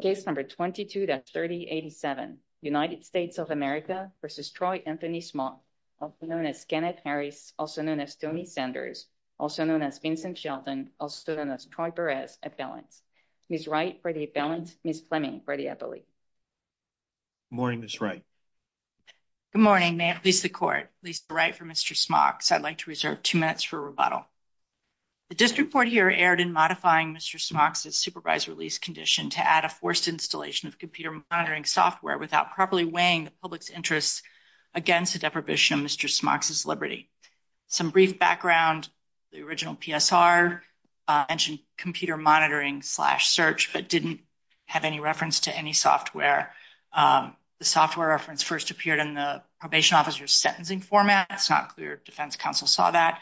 Case number 22-3087, United States of America v. Troy Anthony Smocks, also known as Kenneth Harris, also known as Tony Sanders, also known as Vincent Shelton, also known as Troy Perez at balance. Ms. Wright for the balance, Ms. Fleming for the appellate. Good morning, Ms. Wright. Good morning. May it please the court, please write for Mr. Smocks. I'd like to reserve two minutes for rebuttal. The district court here erred in modifying Mr. Smocks's supervised release condition to add a forced installation of computer monitoring software without properly weighing the public's interests against the deprivation of Mr. Smocks's liberty. Some brief background, the original PSR mentioned computer monitoring slash search but didn't have any reference to any software. The software reference first appeared in the probation officer's sentencing format. It's not clear if defense counsel saw that.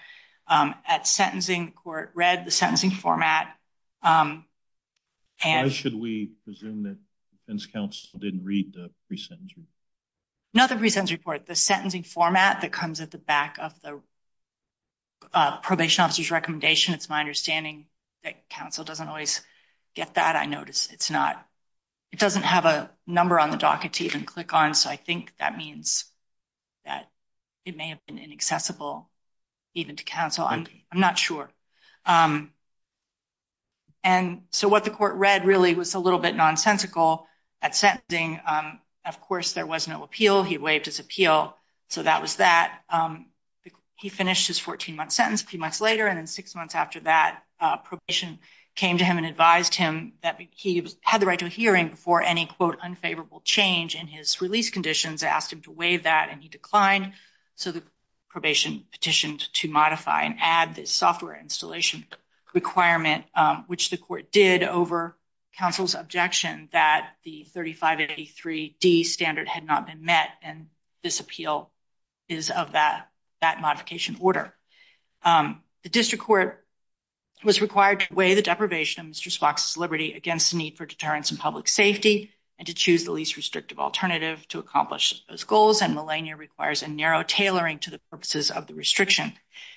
At sentencing, the court read the sentencing format. Why should we presume that defense counsel didn't read the pre-sentence report? No, the pre-sentence report, the sentencing format that comes at the back of the probation officer's recommendation, it's my understanding that counsel doesn't always get that. I notice it's not, it doesn't have a number on the docket to even click on, so I think that means that it may have been inaccessible even to counsel. I'm not sure. And so what the court read really was a little bit nonsensical at sentencing. Of course, there was no appeal. He waived his appeal. So that was that. He finished his 14-month sentence a few months later, and then six months after that, probation came to him and advised him that he had the right to a hearing before any, quote, unfavorable change in his release conditions, asked him to waive that, and he declined. So the probation petitioned to modify and add this software installation requirement, which the court did over counsel's objection that the 3583D standard had not been met, and this appeal is of that modification order. The district court was required to weigh the deprivation of Mr. Spock's liberty against the need for deterrence in public safety and to choose the least restrictive alternative to accomplish those goals, and millennia requires a narrow tailoring to the purposes of the restriction.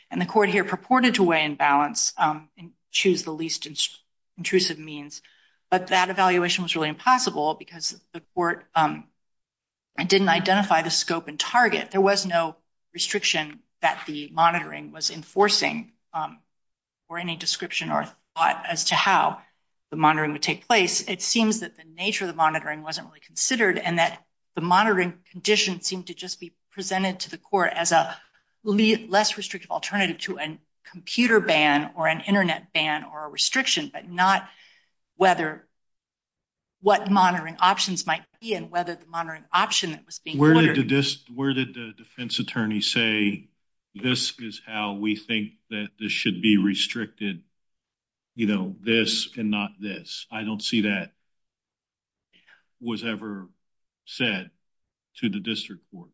And the court here purported to weigh and balance and choose the least intrusive means, but that evaluation was really impossible because the court didn't identify the scope and target. There was no enforcing or any description or thought as to how the monitoring would take place. It seems that the nature of the monitoring wasn't really considered and that the monitoring condition seemed to just be presented to the court as a less restrictive alternative to a computer ban or an internet ban or a restriction, but not whether what monitoring options might be and whether the monitoring option Where did the defense attorney say this is how we think that this should be restricted, you know, this and not this? I don't see that was ever said to the district court.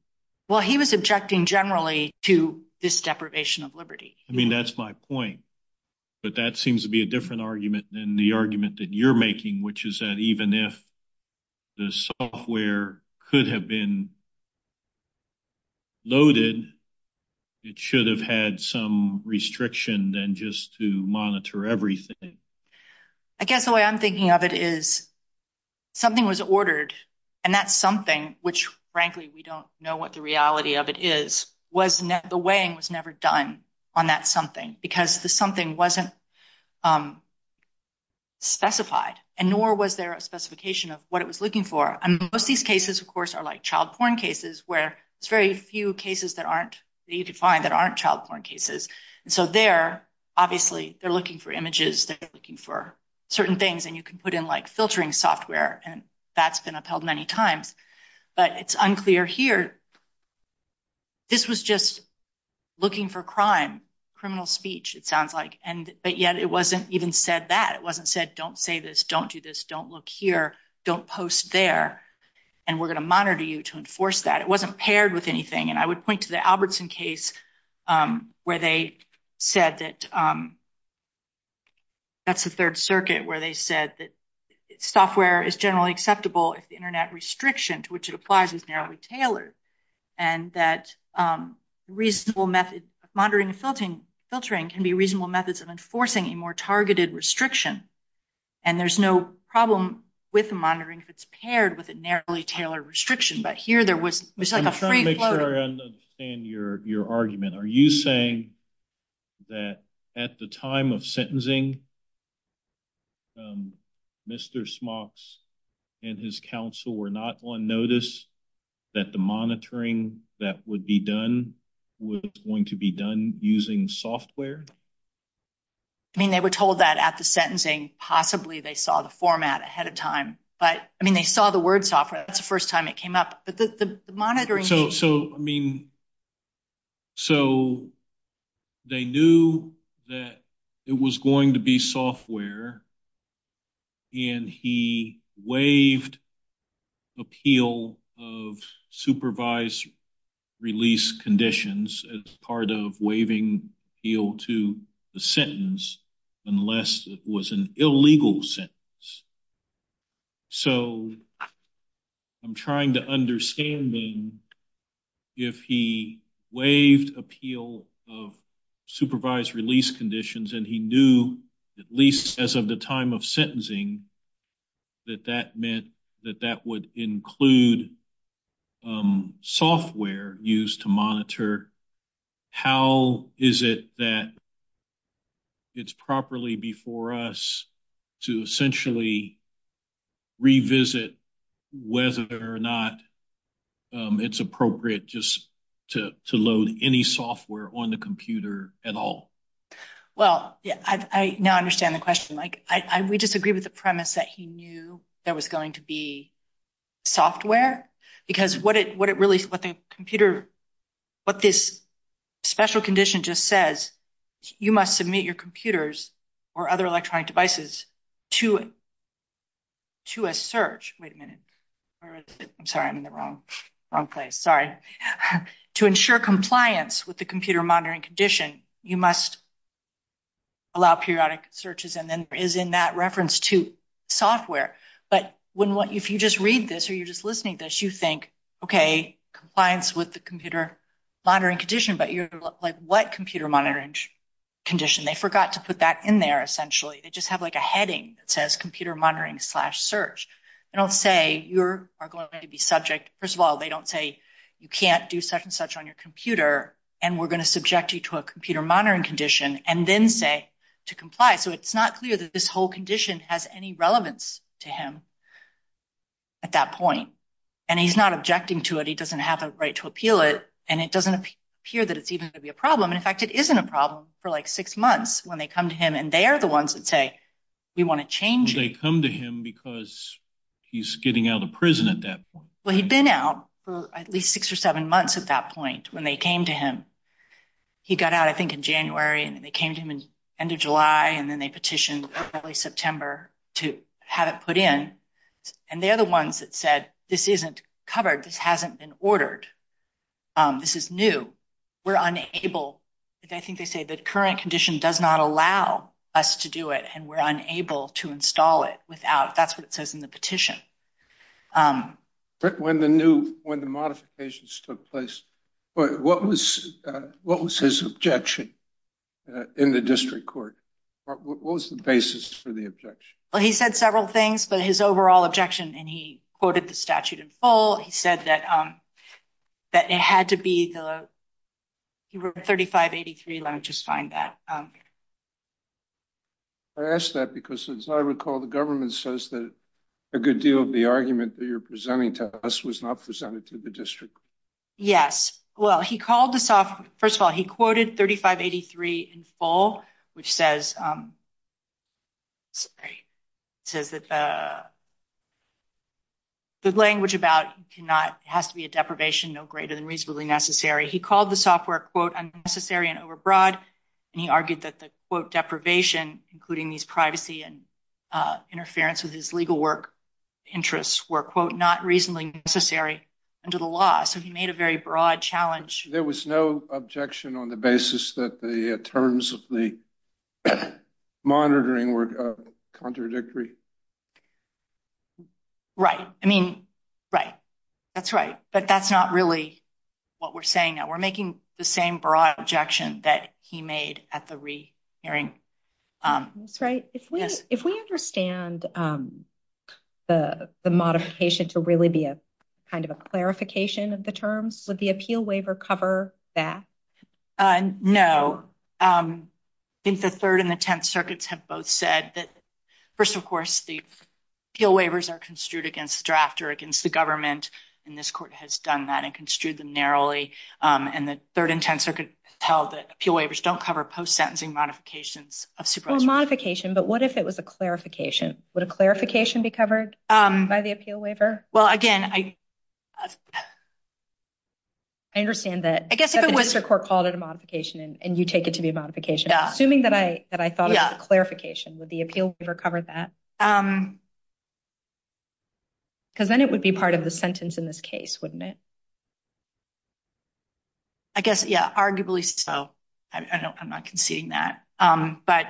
Well, he was objecting generally to this deprivation of liberty. I mean, that's my point, but that seems to be a different argument than the argument that you're making, which is that even if the software could have been loaded, it should have had some restriction than just to monitor everything. I guess the way I'm thinking of it is something was ordered and that something, which frankly we don't know what the reality of it is, the weighing was never done on that something because the something wasn't specified and nor was there a specification of what it was looking for. And most of these cases, of course, are like child porn cases where it's very few cases that aren't, that you could find that aren't child porn cases. And so they're obviously, they're looking for images, they're looking for certain things and you can put in like filtering software and that's been upheld many times, but it's unclear here. This was just looking for crime, criminal speech, it sounds like, but yet it wasn't even said that. It wasn't said, don't say this, don't do this, don't look here, don't post there, and we're going to monitor you to enforce that. It wasn't paired with anything. And I would point to the Albertson case where they said that that's the third circuit where they said that software is generally acceptable if the internet restriction to which it applies is narrowly tailored and that reasonable method of monitoring and filtering can be reasonable methods of enforcing a more targeted restriction. And there's no problem with monitoring if it's paired with a narrowly tailored restriction, but here there was like a free flow. I'm trying to make sure I understand your argument. Are you saying that at the time of sentencing, Mr. Smocks and his counsel were not on notice that the monitoring that would be done was going to be done using software? I mean, they were told that at the sentencing. Possibly they saw the format ahead of time, but I mean, they saw the word software. That's the first time it came up, but the monitoring. So, I mean, so they knew that it was going to be software and he waived appeal of supervised release conditions as part of waiving appeal to the sentence unless it was an illegal sentence. So, I'm trying to understand then if he waived appeal of supervised release conditions and he knew at least as of the time of sentencing that that meant that that would include software used to monitor, how is it that it's properly before us to essentially revisit whether or not it's appropriate just to load any software on the computer at all? Well, yeah, I now understand the question. We disagree with the premise that he knew there was going to be software because what this special condition just says, you must submit your computers or other electronic devices to a search. Wait a minute. I'm sorry. I'm in the wrong place. Sorry. To ensure compliance with the computer monitoring condition, you must allow periodic searches and then there is in that reference to software. But if you just read this or you're just listening to this, you think, okay, compliance with the computer monitoring condition, but you're like, what computer monitoring condition? They forgot to put that in there essentially. They just have a heading that says computer monitoring slash search. They don't say you are going to be subject. First of all, they don't say you can't do such and such on your computer and we're going to subject you to a computer monitoring condition and then say to comply. So it's not clear that this whole condition has any relevance to him at that point. And he's not objecting to it. He doesn't have a right to appeal it and it doesn't appear that it's even going to be a problem. In fact, it isn't a problem for like six months when they come to him and they are the ones that say, we want to change it. They come to him because he's getting out of prison at that point. Well, he'd been out for at least six or seven months at that point when they came to him. He got out, I think, in January and they came to him in end of July and then they petitioned early September to have it put in. And they're the ones that said, this isn't covered. This hasn't been ordered. This is new. We're unable. I think they say the current condition does not allow us to do it and we're unable to install it without, that's what it says in the petition. But when the new, when the modifications took place, what was his objection in the district court? What was the basis for the objection? Well, he said several things, but his overall objection and he quoted the statute in full. He said that it had to be the, he wrote 3583, let me just find that. I asked that because as I recall, the government says that a good deal of the argument that you're presenting to us was not presented to the district. Yes. Well, he called this off. First of all, he quoted 3583 in full, which says, says that the language about cannot, has to be a deprivation no greater than reasonably necessary. He called the software quote, unnecessary and overbroad. And he argued that the quote deprivation, including these privacy and interference with his legal work interests were quote, not reasonably necessary under the law. So he made a very broad challenge. There was no objection on the basis that the terms of the monitoring were contradictory. Right. I mean, right. That's right. But that's not really what we're saying that we're making the same broad objection that he made at the re hearing. That's right. If we, if we understand the, the modification to really be a kind of a clarification of the terms, would the appeal waiver cover that? No. I think the third and the 10th circuits have both said that first, of course, the appeal waivers are construed against draft or against the government. And this court has done that and construed them narrowly. And the third and 10th circuit tell that appeal waivers don't cover post-sentencing modifications of supervisory. Modification. But what if it was a clarification? Would a clarification be covered by the appeal waiver? Well, again, I, I understand that the district court called it a modification and you take it to be a modification. Assuming that I, that I thought of a clarification with the cover that because then it would be part of the sentence in this case, wouldn't it? I guess. Yeah. Arguably. So I don't, I'm not conceding that. But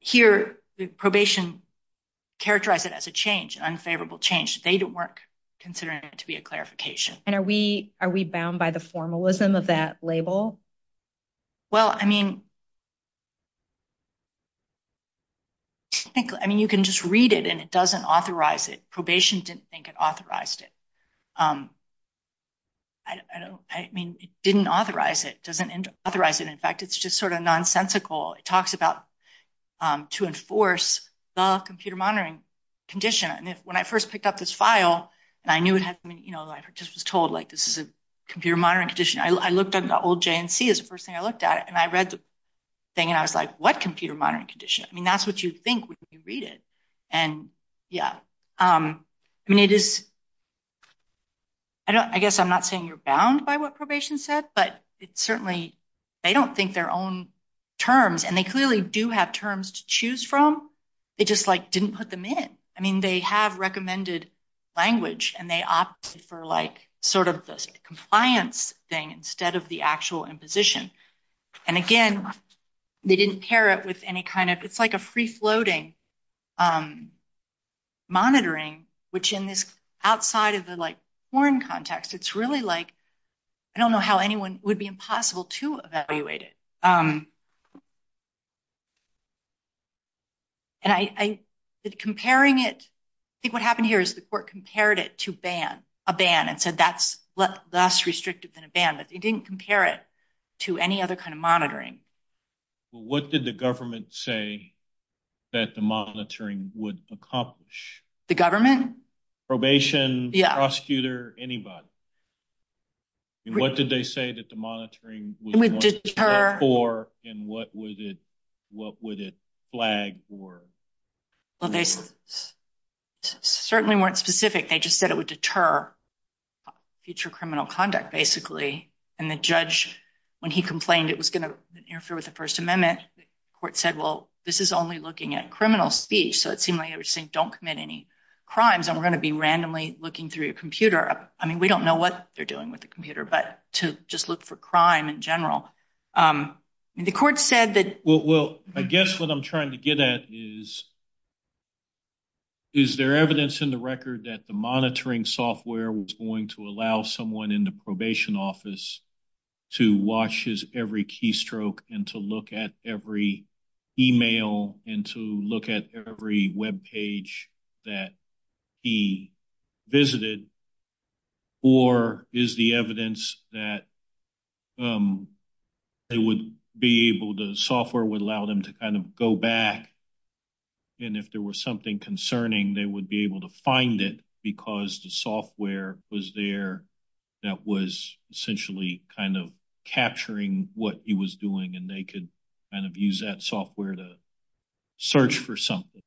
here the probation characterize it as a change, unfavorable change. They didn't work considering it to be a clarification. And are we, are we bound by the formalism of that label? Well, I mean, I mean, you can just read it and it doesn't authorize it. Probation didn't think it authorized it. I don't, I mean, it didn't authorize it. Doesn't authorize it. In fact, it's just sort of nonsensical. It talks about to enforce the computer monitoring condition. And if, when I first picked up this file and I knew it had, I mean, you know, I just was told like, this is a computer monitoring condition. I looked at the old JNC is the first thing I looked at it and I read the thing and I was like, what computer monitoring condition? I mean, that's what you think when you read it. And yeah. I mean, it is, I don't, I guess I'm not saying you're bound by what probation said, but it's certainly, they don't think their own terms and they clearly do have terms to choose from. It just like didn't put them in. I mean, they have this compliance thing instead of the actual imposition. And again, they didn't pair it with any kind of, it's like a free floating monitoring, which in this outside of the like foreign context, it's really like, I don't know how anyone would be impossible to evaluate it. And I did comparing it. I think what happened here is the court compared it to ban a ban and that's less restrictive than a ban, but they didn't compare it to any other kind of monitoring. Well, what did the government say that the monitoring would accomplish? The government? Probation, prosecutor, anybody. And what did they say that the monitoring would for, and what would it, what would it flag for? Well, they certainly weren't specific. They just said it would deter future criminal conduct basically. And the judge, when he complained, it was going to interfere with the first amendment court said, well, this is only looking at criminal speech. So it seemed like they were saying, don't commit any crimes. And we're going to be randomly looking through your computer. I mean, we don't know what they're doing with the computer, but to just look for crime in general. I mean, the court said that. Well, I guess what I'm trying to get at is, is there evidence in the record that the monitoring software was going to allow someone in the probation office to watch his every keystroke and to look at every email and to look at every webpage that he visited, or is the evidence that they would be able to, the software would allow them to kind of go back. And if there was something concerning, they would be able to find it because the software was there that was essentially kind of capturing what he was doing. And they could kind of use that software to search for something.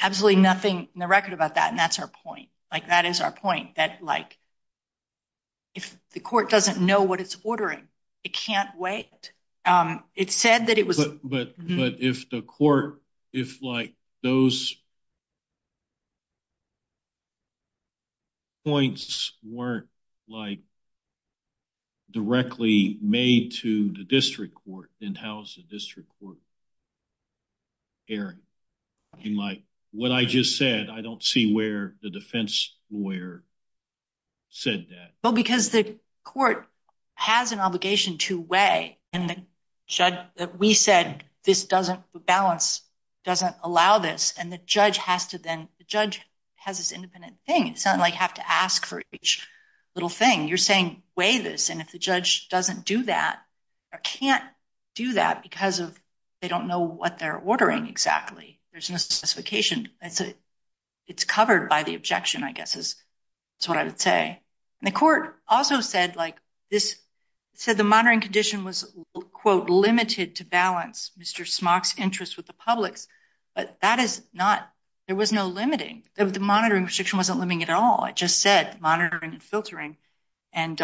Absolutely nothing in the record about that. And that's our point. Like that is our point that like, if the court doesn't know what it's ordering, it can't wait. It said that it was. But if the court, if like those points weren't like directly made to the district court, then how's the district court hearing? Like what I just said, I don't see where the defense lawyer said that. Well, because the court has an obligation to weigh and the judge that we said, this doesn't balance, doesn't allow this. And the judge has to then, the judge has this independent thing. It's not like have to ask for each little thing you're saying, weigh this. And if the judge doesn't do that or can't do that because of, they don't know what they're ordering exactly. There's no specification. It's covered by the objection, I guess is what I would say. And the court also said like this, said the monitoring condition was quote limited to balance Mr. Smock's interest with the public's, but that is not, there was no limiting. The monitoring restriction wasn't limiting at all. It just said monitoring and filtering. And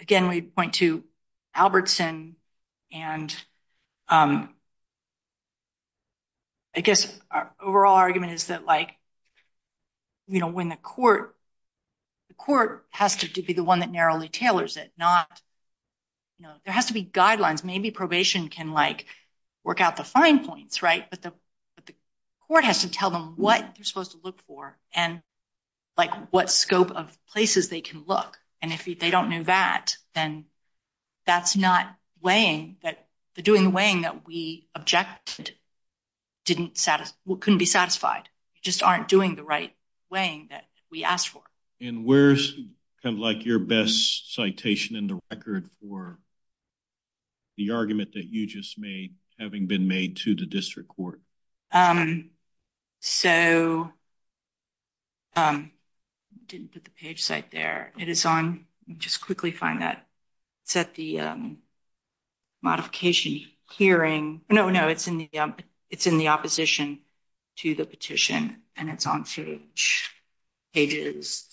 again, we'd point to Albertson and I guess our overall argument is that like, you know, when the court, the court has to be the one that narrowly tailors it, not, you know, there has to be guidelines. Maybe probation can like work out the fine points, right. But the, but the court has to tell them what they're supposed to look for and like what scope of places they can look. And if they don't know that, then that's not weighing that the doing the weighing that we objected didn't satisfy, couldn't be satisfied. You just aren't doing the right weighing that we asked for. And where's kind of like your best citation in the record for the argument that you just made having been made to the district court? So I didn't put the page site there. It is on just quickly find that set the modification hearing. No, no. It's in the, it's in the opposition to the petition and it's on pages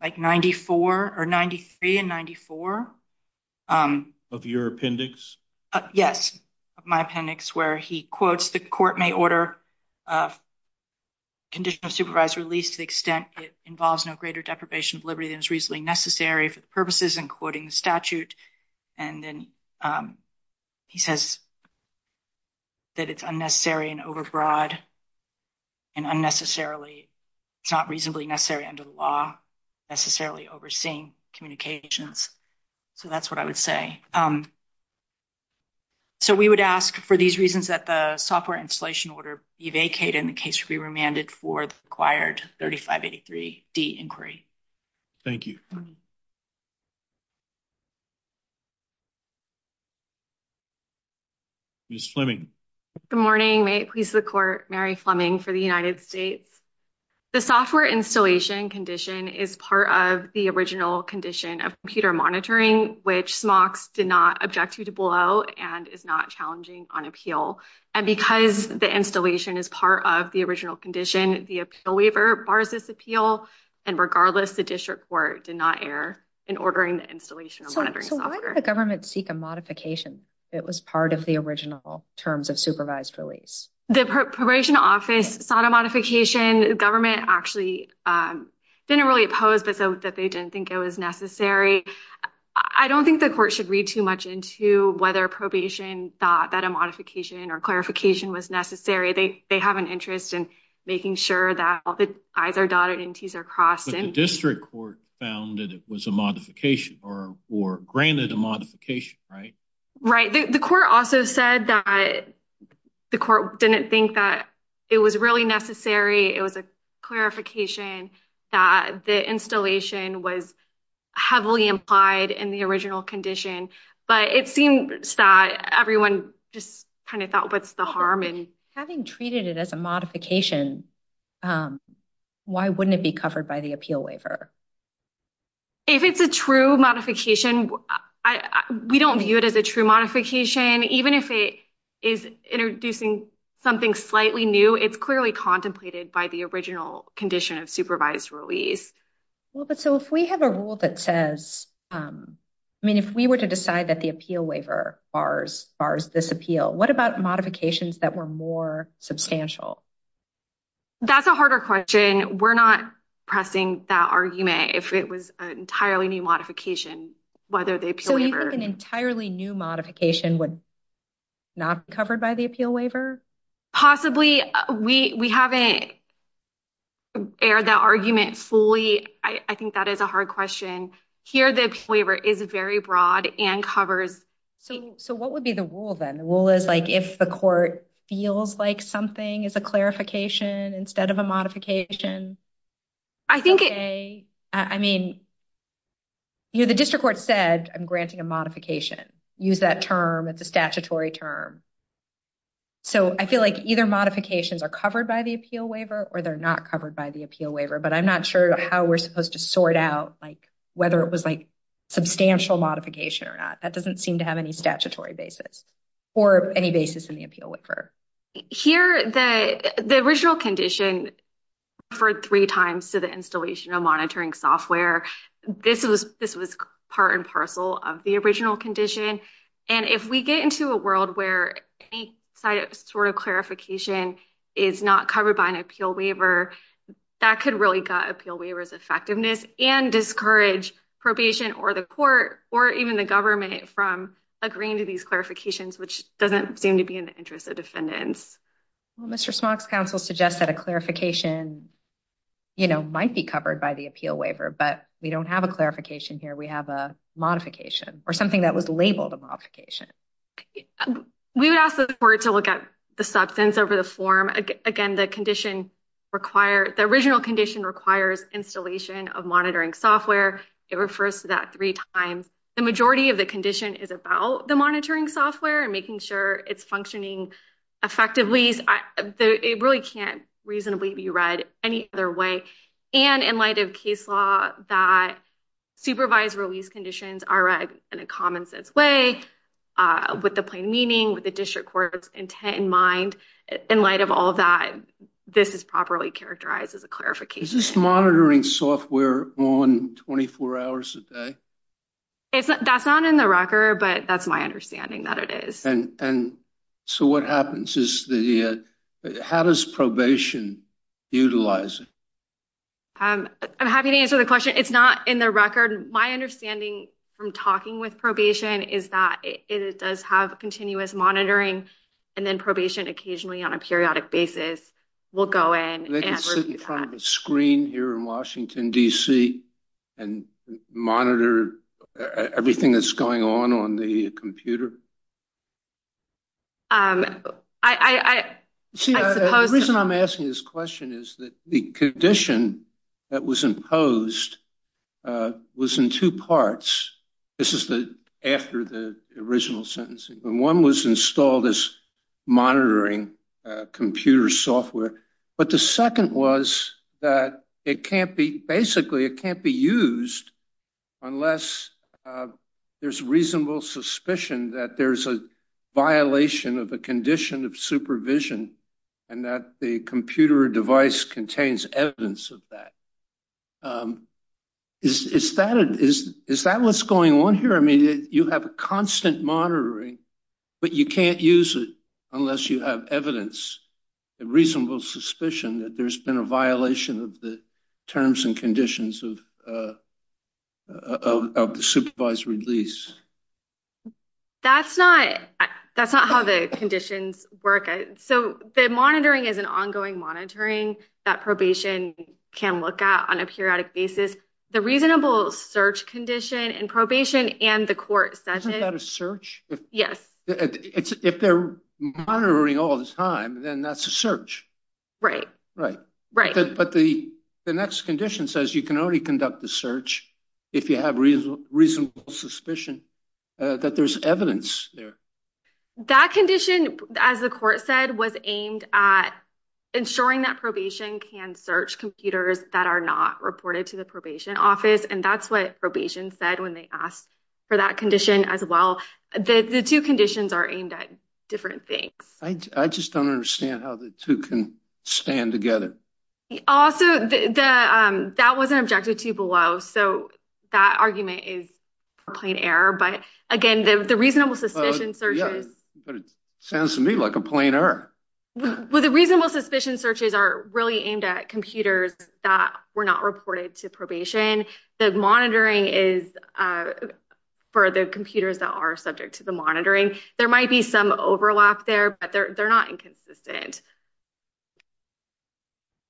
like 94 or 93 and 94. Of your appendix? Yes. My appendix where he quotes the court may order a conditional supervised release to the extent it involves no greater deprivation of liberty than is reasonably necessary for the purposes and quoting the statute. And then he says that it's unnecessary and overbroad and unnecessarily, it's not reasonably necessary under the law necessarily overseeing communications. So that's what I would say. Um, so we would ask for these reasons that the software installation order be vacated in the case to be remanded for the acquired 3583 D inquiry. Thank you. Ms. Fleming. Good morning. May it please the court. Mary Fleming for the United States. The software installation condition is part of the original condition of computer monitoring, which smocks did not object to to blow and is not challenging on appeal. And because the installation is part of the original condition, the appeal waiver bars this appeal. And regardless, the district court did not air in ordering the installation. So why did the government seek a modification? It was part of the original terms of supervised release. The probation office sought a modification. The government actually, um, didn't really oppose, but so that they didn't think it was necessary. I don't think the court should read too much into whether probation thought that a modification or clarification was necessary. They, they have an interest in making sure that all the I's are dotted and T's are crossed. And district court found that it was a modification or, or granted a modification, right? Right. The court also said that the court didn't think that it was really necessary. It was clarification that the installation was heavily implied in the original condition, but it seems that everyone just kind of thought what's the harm in having treated it as a modification. Um, why wouldn't it be covered by the appeal waiver? If it's a true modification, we don't view it as a true modification, even if it is introducing something slightly new, it's clearly contemplated by the original condition of supervised release. Well, but so if we have a rule that says, um, I mean, if we were to decide that the appeal waiver bars, bars, this appeal, what about modifications that were more substantial? That's a harder question. We're not pressing that argument. If it was an entirely new modification, whether the appeal waiver, an entirely new modification would not be covered by the we, we haven't aired that argument fully. I think that is a hard question here. The waiver is very broad and covers. So, so what would be the rule then the rule is like, if the court feels like something is a clarification instead of a modification, I think, I mean, you know, the district court said I'm granting a modification use that term. It's a statutory term. So I feel like either modifications are covered by the appeal waiver or they're not covered by the appeal waiver, but I'm not sure how we're supposed to sort out like, whether it was like substantial modification or not. That doesn't seem to have any statutory basis or any basis in the appeal waiver. Here, the, the original condition for three times to the installation of monitoring software. This was, this was part and parcel of the original condition. And if we get into a world where any sort of clarification is not covered by an appeal waiver, that could really got appeal waivers effectiveness and discourage probation or the court or even the government from agreeing to these clarifications, which doesn't seem to be in the interest of defendants. Well, Mr. Smock's counsel suggests that a clarification, you know, might be covered by the appeal waiver, but we don't have a clarification here. We have a modification or something that was labeled a modification. We would ask the court to look at the substance over the form. Again, the condition required, the original condition requires installation of monitoring software. It refers to that three times. The majority of the condition is about the monitoring software and making sure it's functioning effectively. It really can't reasonably be read any other way. And in light of case law that supervised release conditions are read in a common sense way, with the plain meaning, with the district court's intent in mind, in light of all of that, this is properly characterized as a clarification. Is this monitoring software on 24 hours a day? It's, that's not in the record, but that's my understanding that it is. And so what happens is the, how does probation utilize it? I'm happy to answer the record. My understanding from talking with probation is that it does have a continuous monitoring and then probation occasionally on a periodic basis will go in. They can sit in front of a screen here in Washington, DC and monitor everything that's going on on the computer? I, I, I, I suppose. See, the reason I'm asking this question is that the condition that was imposed was in two parts. This is the, after the original sentencing, when one was installed as monitoring computer software. But the second was that it can't be, basically it can't be used unless there's reasonable suspicion that there's a violation of a condition of supervision and that the computer device contains evidence of that. Is, is that, is, is that what's going on here? I mean, you have a constant monitoring, but you can't use it unless you have evidence, a reasonable suspicion that there's been a violation of the terms and conditions of, of, of the supervised release. That's not, that's not how the conditions work. So the monitoring is an ongoing monitoring that probation can look at on a periodic basis. The reasonable search condition in probation and the court sentence. Isn't that a search? Yes. It's, if they're monitoring all the time, then that's a search. Right. Right. Right. But the, the next condition says you can only conduct the search if you have reasonable suspicion that there's evidence there. That condition, as the court said, was aimed at ensuring that probation can search computers that are not reported to the probation office. And that's what probation said when they asked for that condition as well, that the two conditions are aimed at different things. I just don't understand how the two can stand together. Also the, that wasn't objective to below. So that argument is a plain error, but again, the reasonable suspicion searches sounds to me like a plain error. Well, the reasonable suspicion searches are really aimed at computers that were not reported to probation. The monitoring is for the computers that are subject to the monitoring. There might be some overlap there, they're not inconsistent.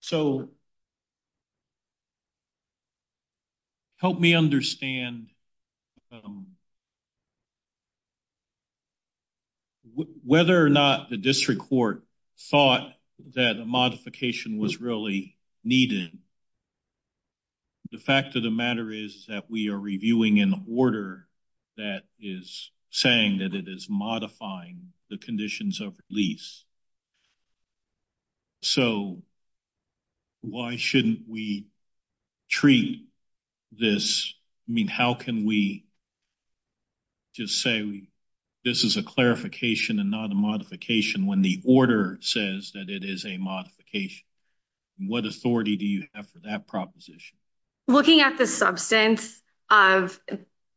So help me understand whether or not the district court thought that a modification was really needed. The fact of the matter is that we are reviewing an order that is saying that it is modifying the conditions of release. So why shouldn't we treat this, I mean, how can we just say this is a clarification and not a modification when the order says that it is a modification? What authority do you have for that proposition? Looking at the substance of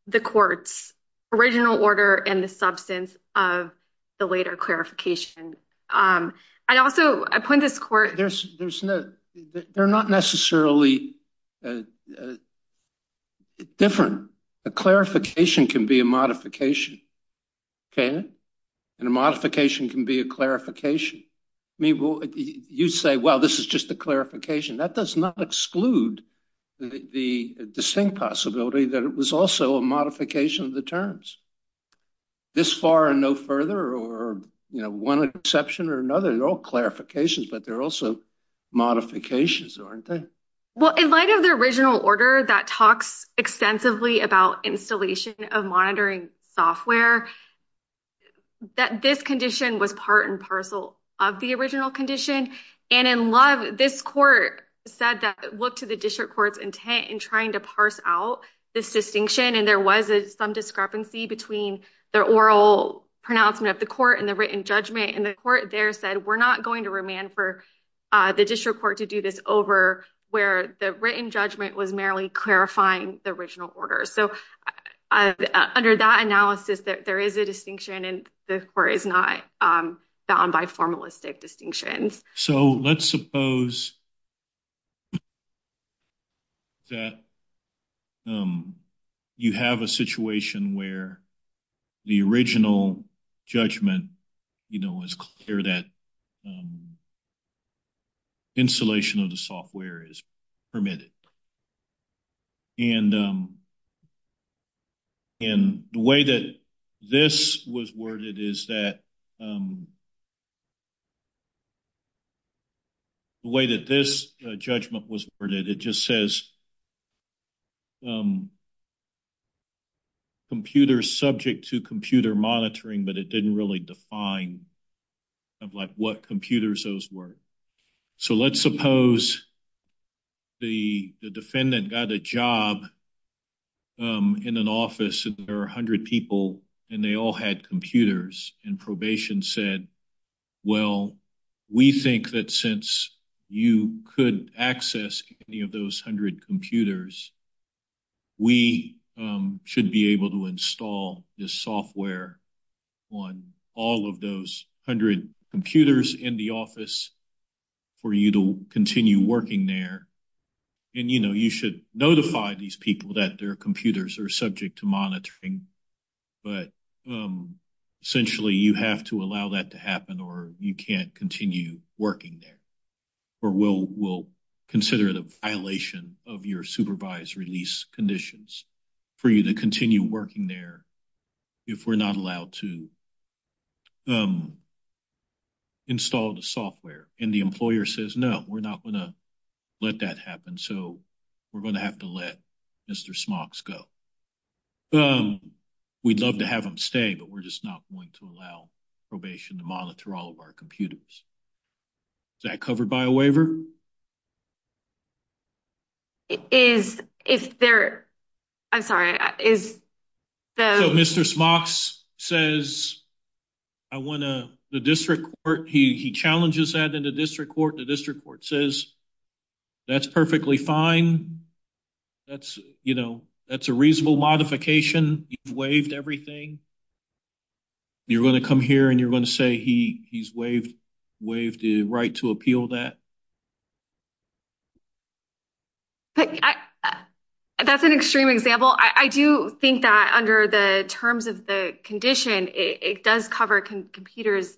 the court's original order and the substance of the later clarification. I also, I point this court. They're not necessarily different. A clarification can be a modification. And a modification can be a clarification. You say, well, this is just a clarification. That does not exclude the distinct possibility that it was also a modification of the terms. This far and no further or, you know, one exception or another, they're all clarifications, but they're also modifications, aren't they? Well, in light of the original order that talks extensively about installation of monitoring software, that this condition was part and parcel of the original condition. And in love, this court said that look to the district court's parse out this distinction and there was some discrepancy between the oral pronouncement of the court and the written judgment. And the court there said we're not going to remand for the district court to do this over where the written judgment was merely clarifying the original order. Under that analysis, there is a distinction and the court is not bound by formalistic distinctions. So let's suppose that you have a situation where the original judgment, you know, is clear that installation of the software is permitted. And and the way that this was worded is that the way that this judgment was worded, it just says computer subject to computer monitoring, but it didn't really define of like what computers those were. So let's suppose the defendant got a job in an office and there are 100 people and they all had computers and probation said, well, we think that since you could access any of those 100 computers, we should be able to install this software on all of those 100 computers in the office for you to continue working there. And you know, you should notify these people that their computers are subject to monitoring, but essentially you have to allow that to happen or you can't continue working there or we'll consider it a violation of your supervised release conditions for you to continue working there if we're not allowed to install the software. And the employer says, no, we're not going to let that happen. So we're going to have to let Mr. Smocks go. We'd love to have him stay, but we're just not going to allow probation to monitor all our computers. Is that covered by a waiver? Is, if there, I'm sorry, is the... So Mr. Smocks says, I want to, the district court, he challenges that in the district court. The district court says, that's perfectly fine. That's, you know, that's a reasonable modification. You've waived everything. You're going to come here and you're going to say, he's waived the right to appeal that? That's an extreme example. I do think that under the terms of the condition, it does cover computers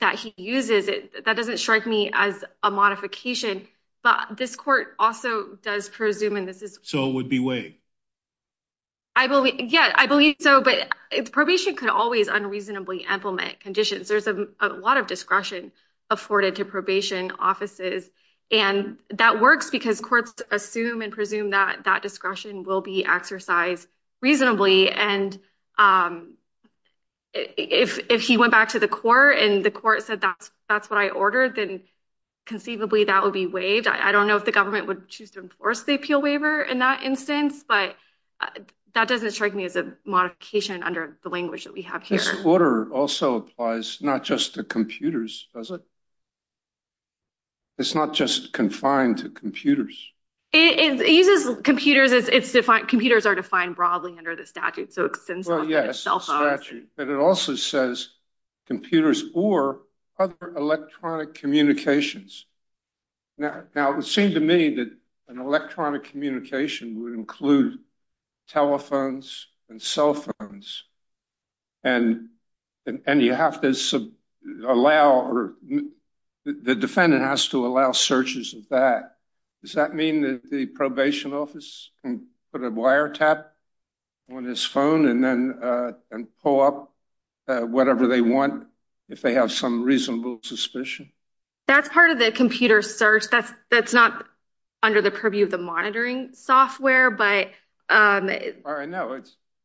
that he uses. That doesn't strike me as a modification, but this court also does presume, and this is... So it would be waived. I believe, yeah, I believe so, but probation could always unreasonably implement conditions. There's a lot of discretion afforded to probation offices, and that works because courts assume and presume that that discretion will be exercised reasonably. And if he went back to the court and the court said, that's what I ordered, then conceivably that would be waived. I don't know if the government would choose to enforce the appeal waiver in that instance, but that doesn't strike me as a modification under the language that we have here. This order also applies not just to computers, does it? It's not just confined to computers. It uses computers as it's defined. Computers are defined broadly under the statute, so it extends... Well, yes, the statute, but it also says computers or other electronic communications. Now, it seemed to me that an electronic communication would include telephones and cell phones, and you have to allow... The defendant has to allow searches of that. Does that mean that the probation office can put a wiretap on his phone and pull up whatever they want if they have some reasonable suspicion? That's part of the computer search. That's not under the purview of the monitoring software, but... No,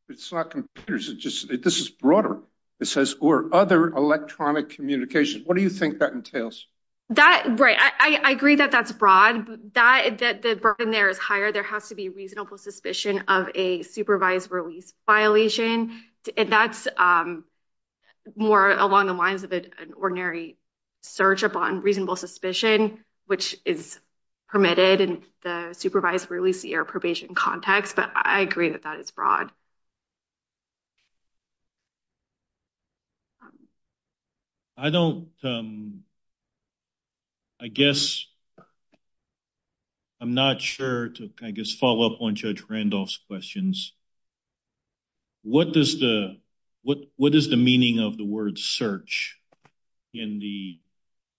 it's not computers. This is broader. It says, or other electronic communication. What do you think that entails? Right. I agree that that's broad. The burden there is higher. There has to be reasonable suspicion of a supervised release violation, and that's more along the lines of an ordinary search upon reasonable suspicion, which is permitted in the supervised release or probation context, but I agree that that is broad. I don't... I guess I'm not sure to, I guess, follow up on Judge Randolph's questions. What does the... What is the meaning of the word search in the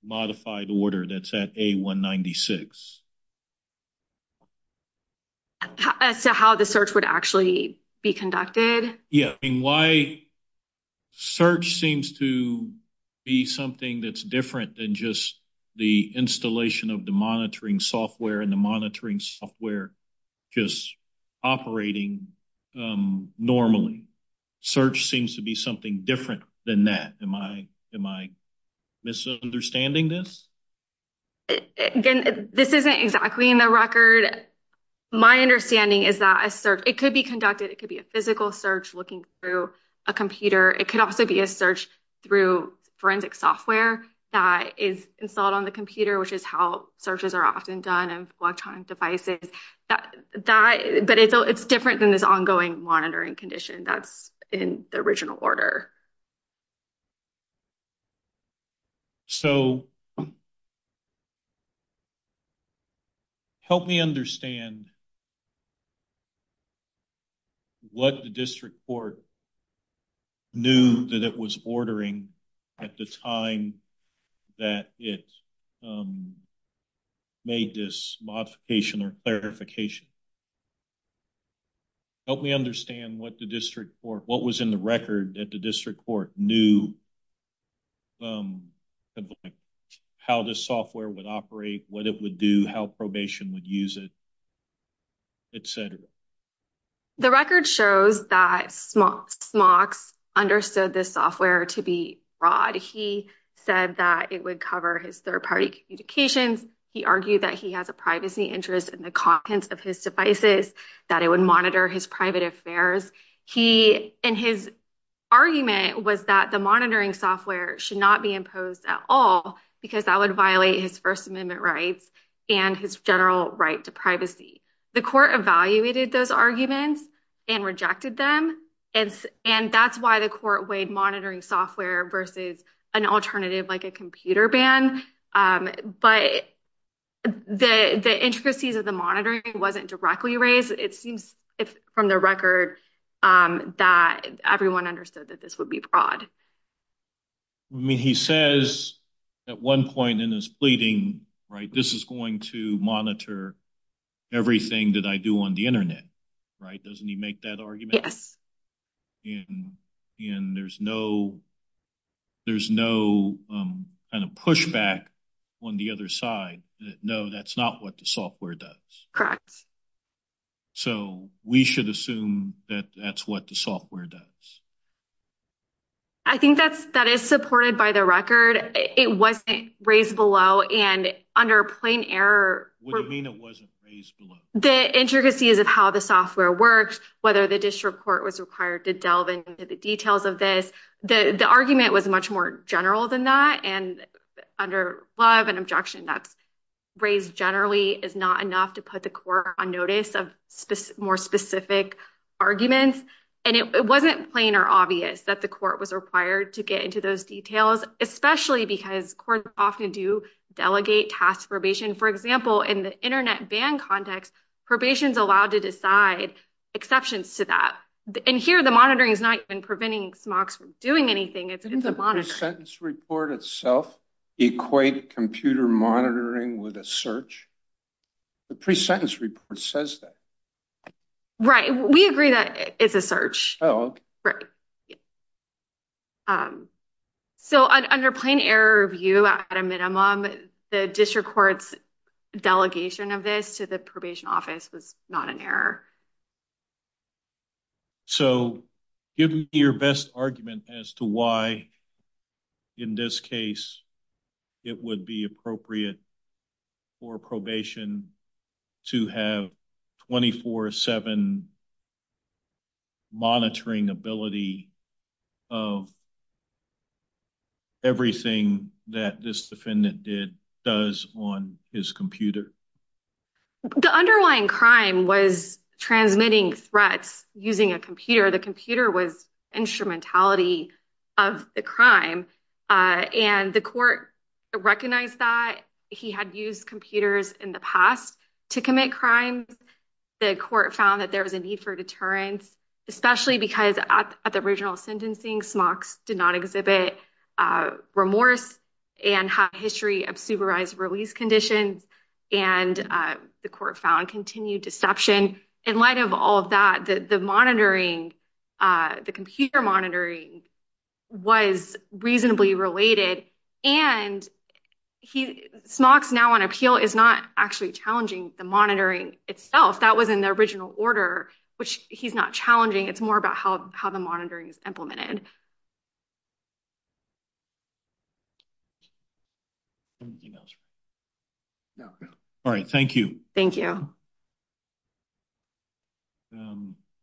modified order that's at A-196? As to how the search would actually be conducted? Yeah. And why search seems to be something that's different than just the installation of the monitoring software and the monitoring software just operating normally. Search seems to be something different than that. Am I misunderstanding this? Again, this isn't exactly in the record. My understanding is that a search... It could be conducted. It could be a physical search looking through a computer. It could also be a search through forensic software that is installed on the computer, which is how searches are often done and electronic devices. But it's different than this ongoing monitoring condition that's in the original order. So, help me understand what the district court knew that it was ordering at the time that it made this modification or clarification. Help me understand what the district court... What was in the record that the district court knew how this software would operate, what it would do, how probation would use it, etc. The record shows that Smocks understood this software to be fraud. He said that it would cover his third-party communications. He argued that he has a privacy interest in the contents of his devices, that it would monitor his private affairs. His argument was that the monitoring software should not be imposed at all because that would violate his First Amendment rights and his general right to privacy. The court evaluated those arguments and rejected them. That's why the court weighed monitoring software versus an alternative like a computer ban. But the intricacies of the monitoring wasn't directly raised. It seems from the record that everyone understood that this would be fraud. He says at one point in his pleading, this is going to monitor everything that I do on the other side. No, that's not what the software does. Correct. So we should assume that that's what the software does. I think that is supported by the record. It wasn't raised below and under plain error... What do you mean it wasn't raised below? The intricacies of how the software works, whether the district court was required to delve into the details of this. The argument was much more general than that. Under love and objection that's raised generally is not enough to put the court on notice of more specific arguments. It wasn't plain or obvious that the court was required to get into those details, especially because courts often do delegate task probation. For example, in the internet ban context, probation is allowed to decide exceptions to that. And here the monitoring is not even preventing smocks from doing anything. Didn't the pre-sentence report itself equate computer monitoring with a search? The pre-sentence report says that. Right. We agree that it's a search. So under plain error review at a minimum, the district court's delegation of this to the court. So give me your best argument as to why in this case it would be appropriate for probation to have 24-7 monitoring ability of everything that this defendant did does on his computer. The underlying crime was transmitting threats using a computer. The computer was instrumentality of the crime. And the court recognized that he had used computers in the past to commit crimes. The court found that there was a need for deterrence, especially because at the original sentencing, smocks did not exhibit remorse and have a history of supervised release conditions. And the court found continued deception. In light of all of that, the monitoring, the computer monitoring was reasonably related. And smocks now on appeal is not actually challenging the monitoring itself. That was in the original order, which he's not challenging. It's more about how the monitoring is implemented. All right. Thank you. Thank you.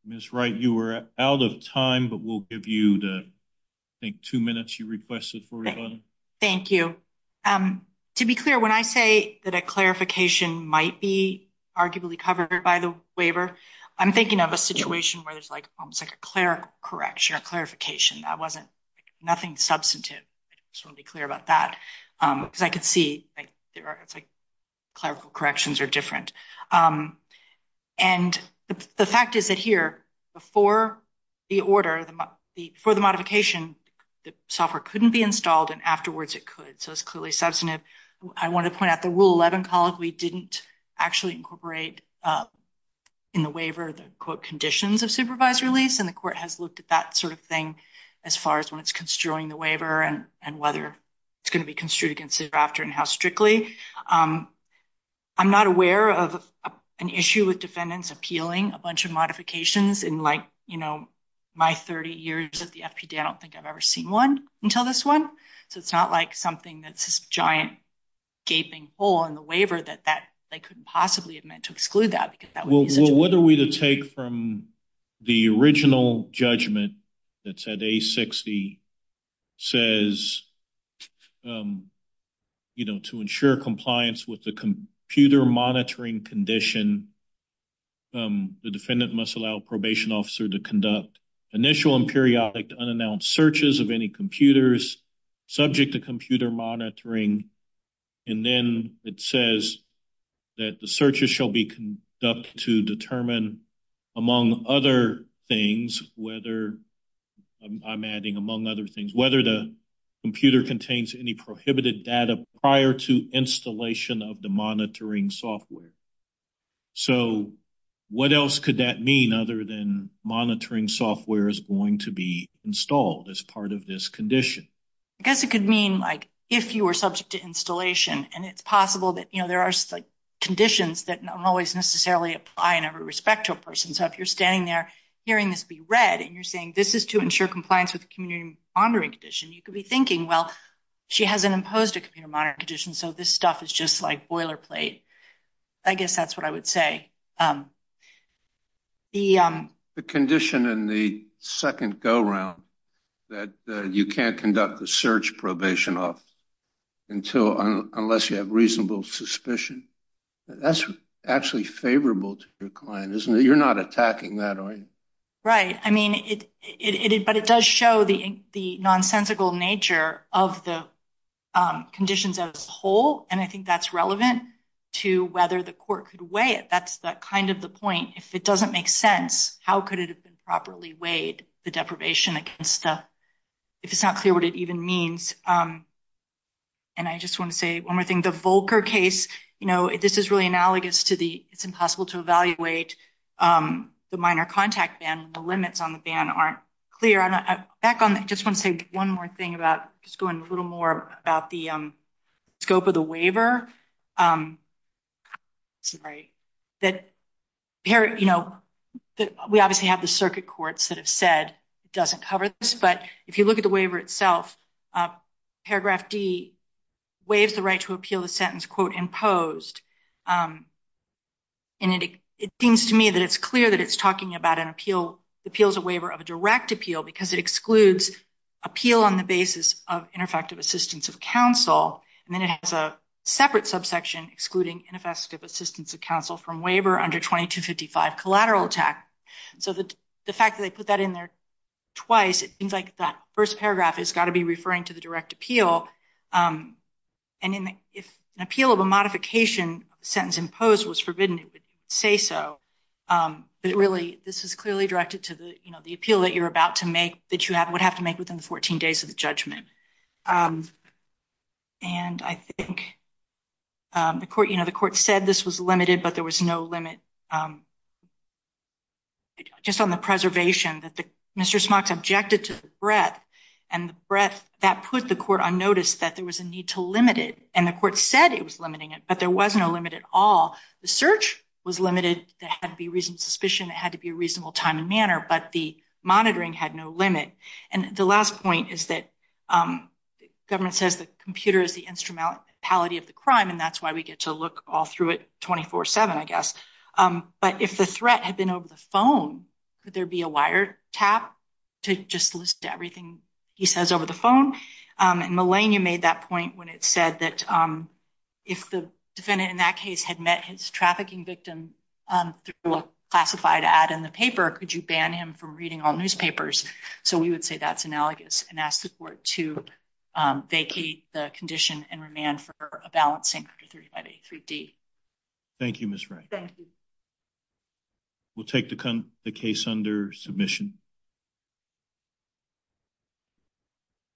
Ms. Wright, you are out of time, but we'll give you the, I think, two minutes you requested. Thank you. To be clear, when I say that a clarification might be arguably covered by the waiver, I'm thinking of a situation where there's like almost like a clear correction or clarification. That wasn't nothing substantive. I just want to be clear about that because I see it's like clerical corrections are different. And the fact is that here, before the order, for the modification, the software couldn't be installed and afterwards it could. So, it's clearly substantive. I want to point out the Rule 11 College, we didn't actually incorporate in the waiver the conditions of supervised release. And the court has looked at that sort of thing as far as when it's construing the waiver and whether it's going to be construed after and how strictly. I'm not aware of an issue with defendants appealing a bunch of modifications in like, you know, my 30 years at the FPD. I don't think I've ever seen one until this one. So, it's not like something that's this giant gaping hole in the waiver that they couldn't possibly have meant to exclude that. Well, what are we to take from the original judgment that you know, to ensure compliance with the computer monitoring condition, the defendant must allow a probation officer to conduct initial and periodic unannounced searches of any computers subject to computer monitoring. And then it says that the searches shall be conducted to determine, among other things, whether I'm adding among other things, whether the computer contains any prohibited data prior to installation of the monitoring software. So, what else could that mean other than monitoring software is going to be installed as part of this condition? I guess it could mean like, if you were subject to installation and it's possible that, you know, there are conditions that don't always necessarily apply in every respect to a person. So, if you're standing there hearing this be read and you're saying, this is to ensure compliance with the computer monitoring condition, you could be thinking, well, she hasn't imposed a computer monitoring condition, so this stuff is just like boilerplate. I guess that's what I would say. The condition in the second go-round that you can't conduct the search probation off until unless you have reasonable suspicion, that's actually favorable to your client, isn't it? You're not attacking that, are you? Right. I mean, but it does show the nonsensical nature of the conditions as a whole, and I think that's relevant to whether the court could weigh it. That's kind of the point. If it doesn't make sense, how could it have been properly weighed, the deprivation against the, if it's not clear what it even means. And I just want to say one more thing. The Volcker case, you know, this is really analogous to the, it's impossible to evaluate the minor contact ban when the limits on the ban aren't clear. Back on that, I just want to say one more thing about just going a little more about the scope of the waiver. We obviously have the circuit courts that have said it doesn't cover this, but if you look at the waiver itself, paragraph D waives the right to appeal the sentence, quote, imposed. And it seems to me that it's clear that it's talking about an appeal, appeals a waiver of a direct appeal because it excludes appeal on the basis of ineffective assistance of counsel, and then it has a separate subsection excluding ineffective assistance of counsel from waiver under 2255 collateral attack. So the fact that they put that in there twice, it seems like that first paragraph has got to be referring to the direct appeal. And if an appeal of a modification sentence imposed was forbidden, it would say so. But really, this is clearly directed to the, you know, the appeal that you're about to make, that you would have to make within the 14 days of the judgment. And I think the court, you know, the court said this was limited, but there was no breadth. And the breadth, that put the court on notice that there was a need to limit it. And the court said it was limiting it, but there was no limit at all. The search was limited, there had to be reasoned suspicion, it had to be a reasonable time and manner, but the monitoring had no limit. And the last point is that the government says the computer is the instrumentality of the crime, and that's why we get to look all through it 24-7, I guess. But if the threat had been over the phone, could there be a wiretap to just list everything he says over the phone? And Melania made that point when it said that if the defendant in that case had met his trafficking victim through a classified ad in the paper, could you ban him from reading all newspapers? So we would say that's analogous, and ask the court to vacate the condition and remand for a balanced Sanctuary 3583D. Thank you, Ms. Wright. Thank you. We'll take the case under submission.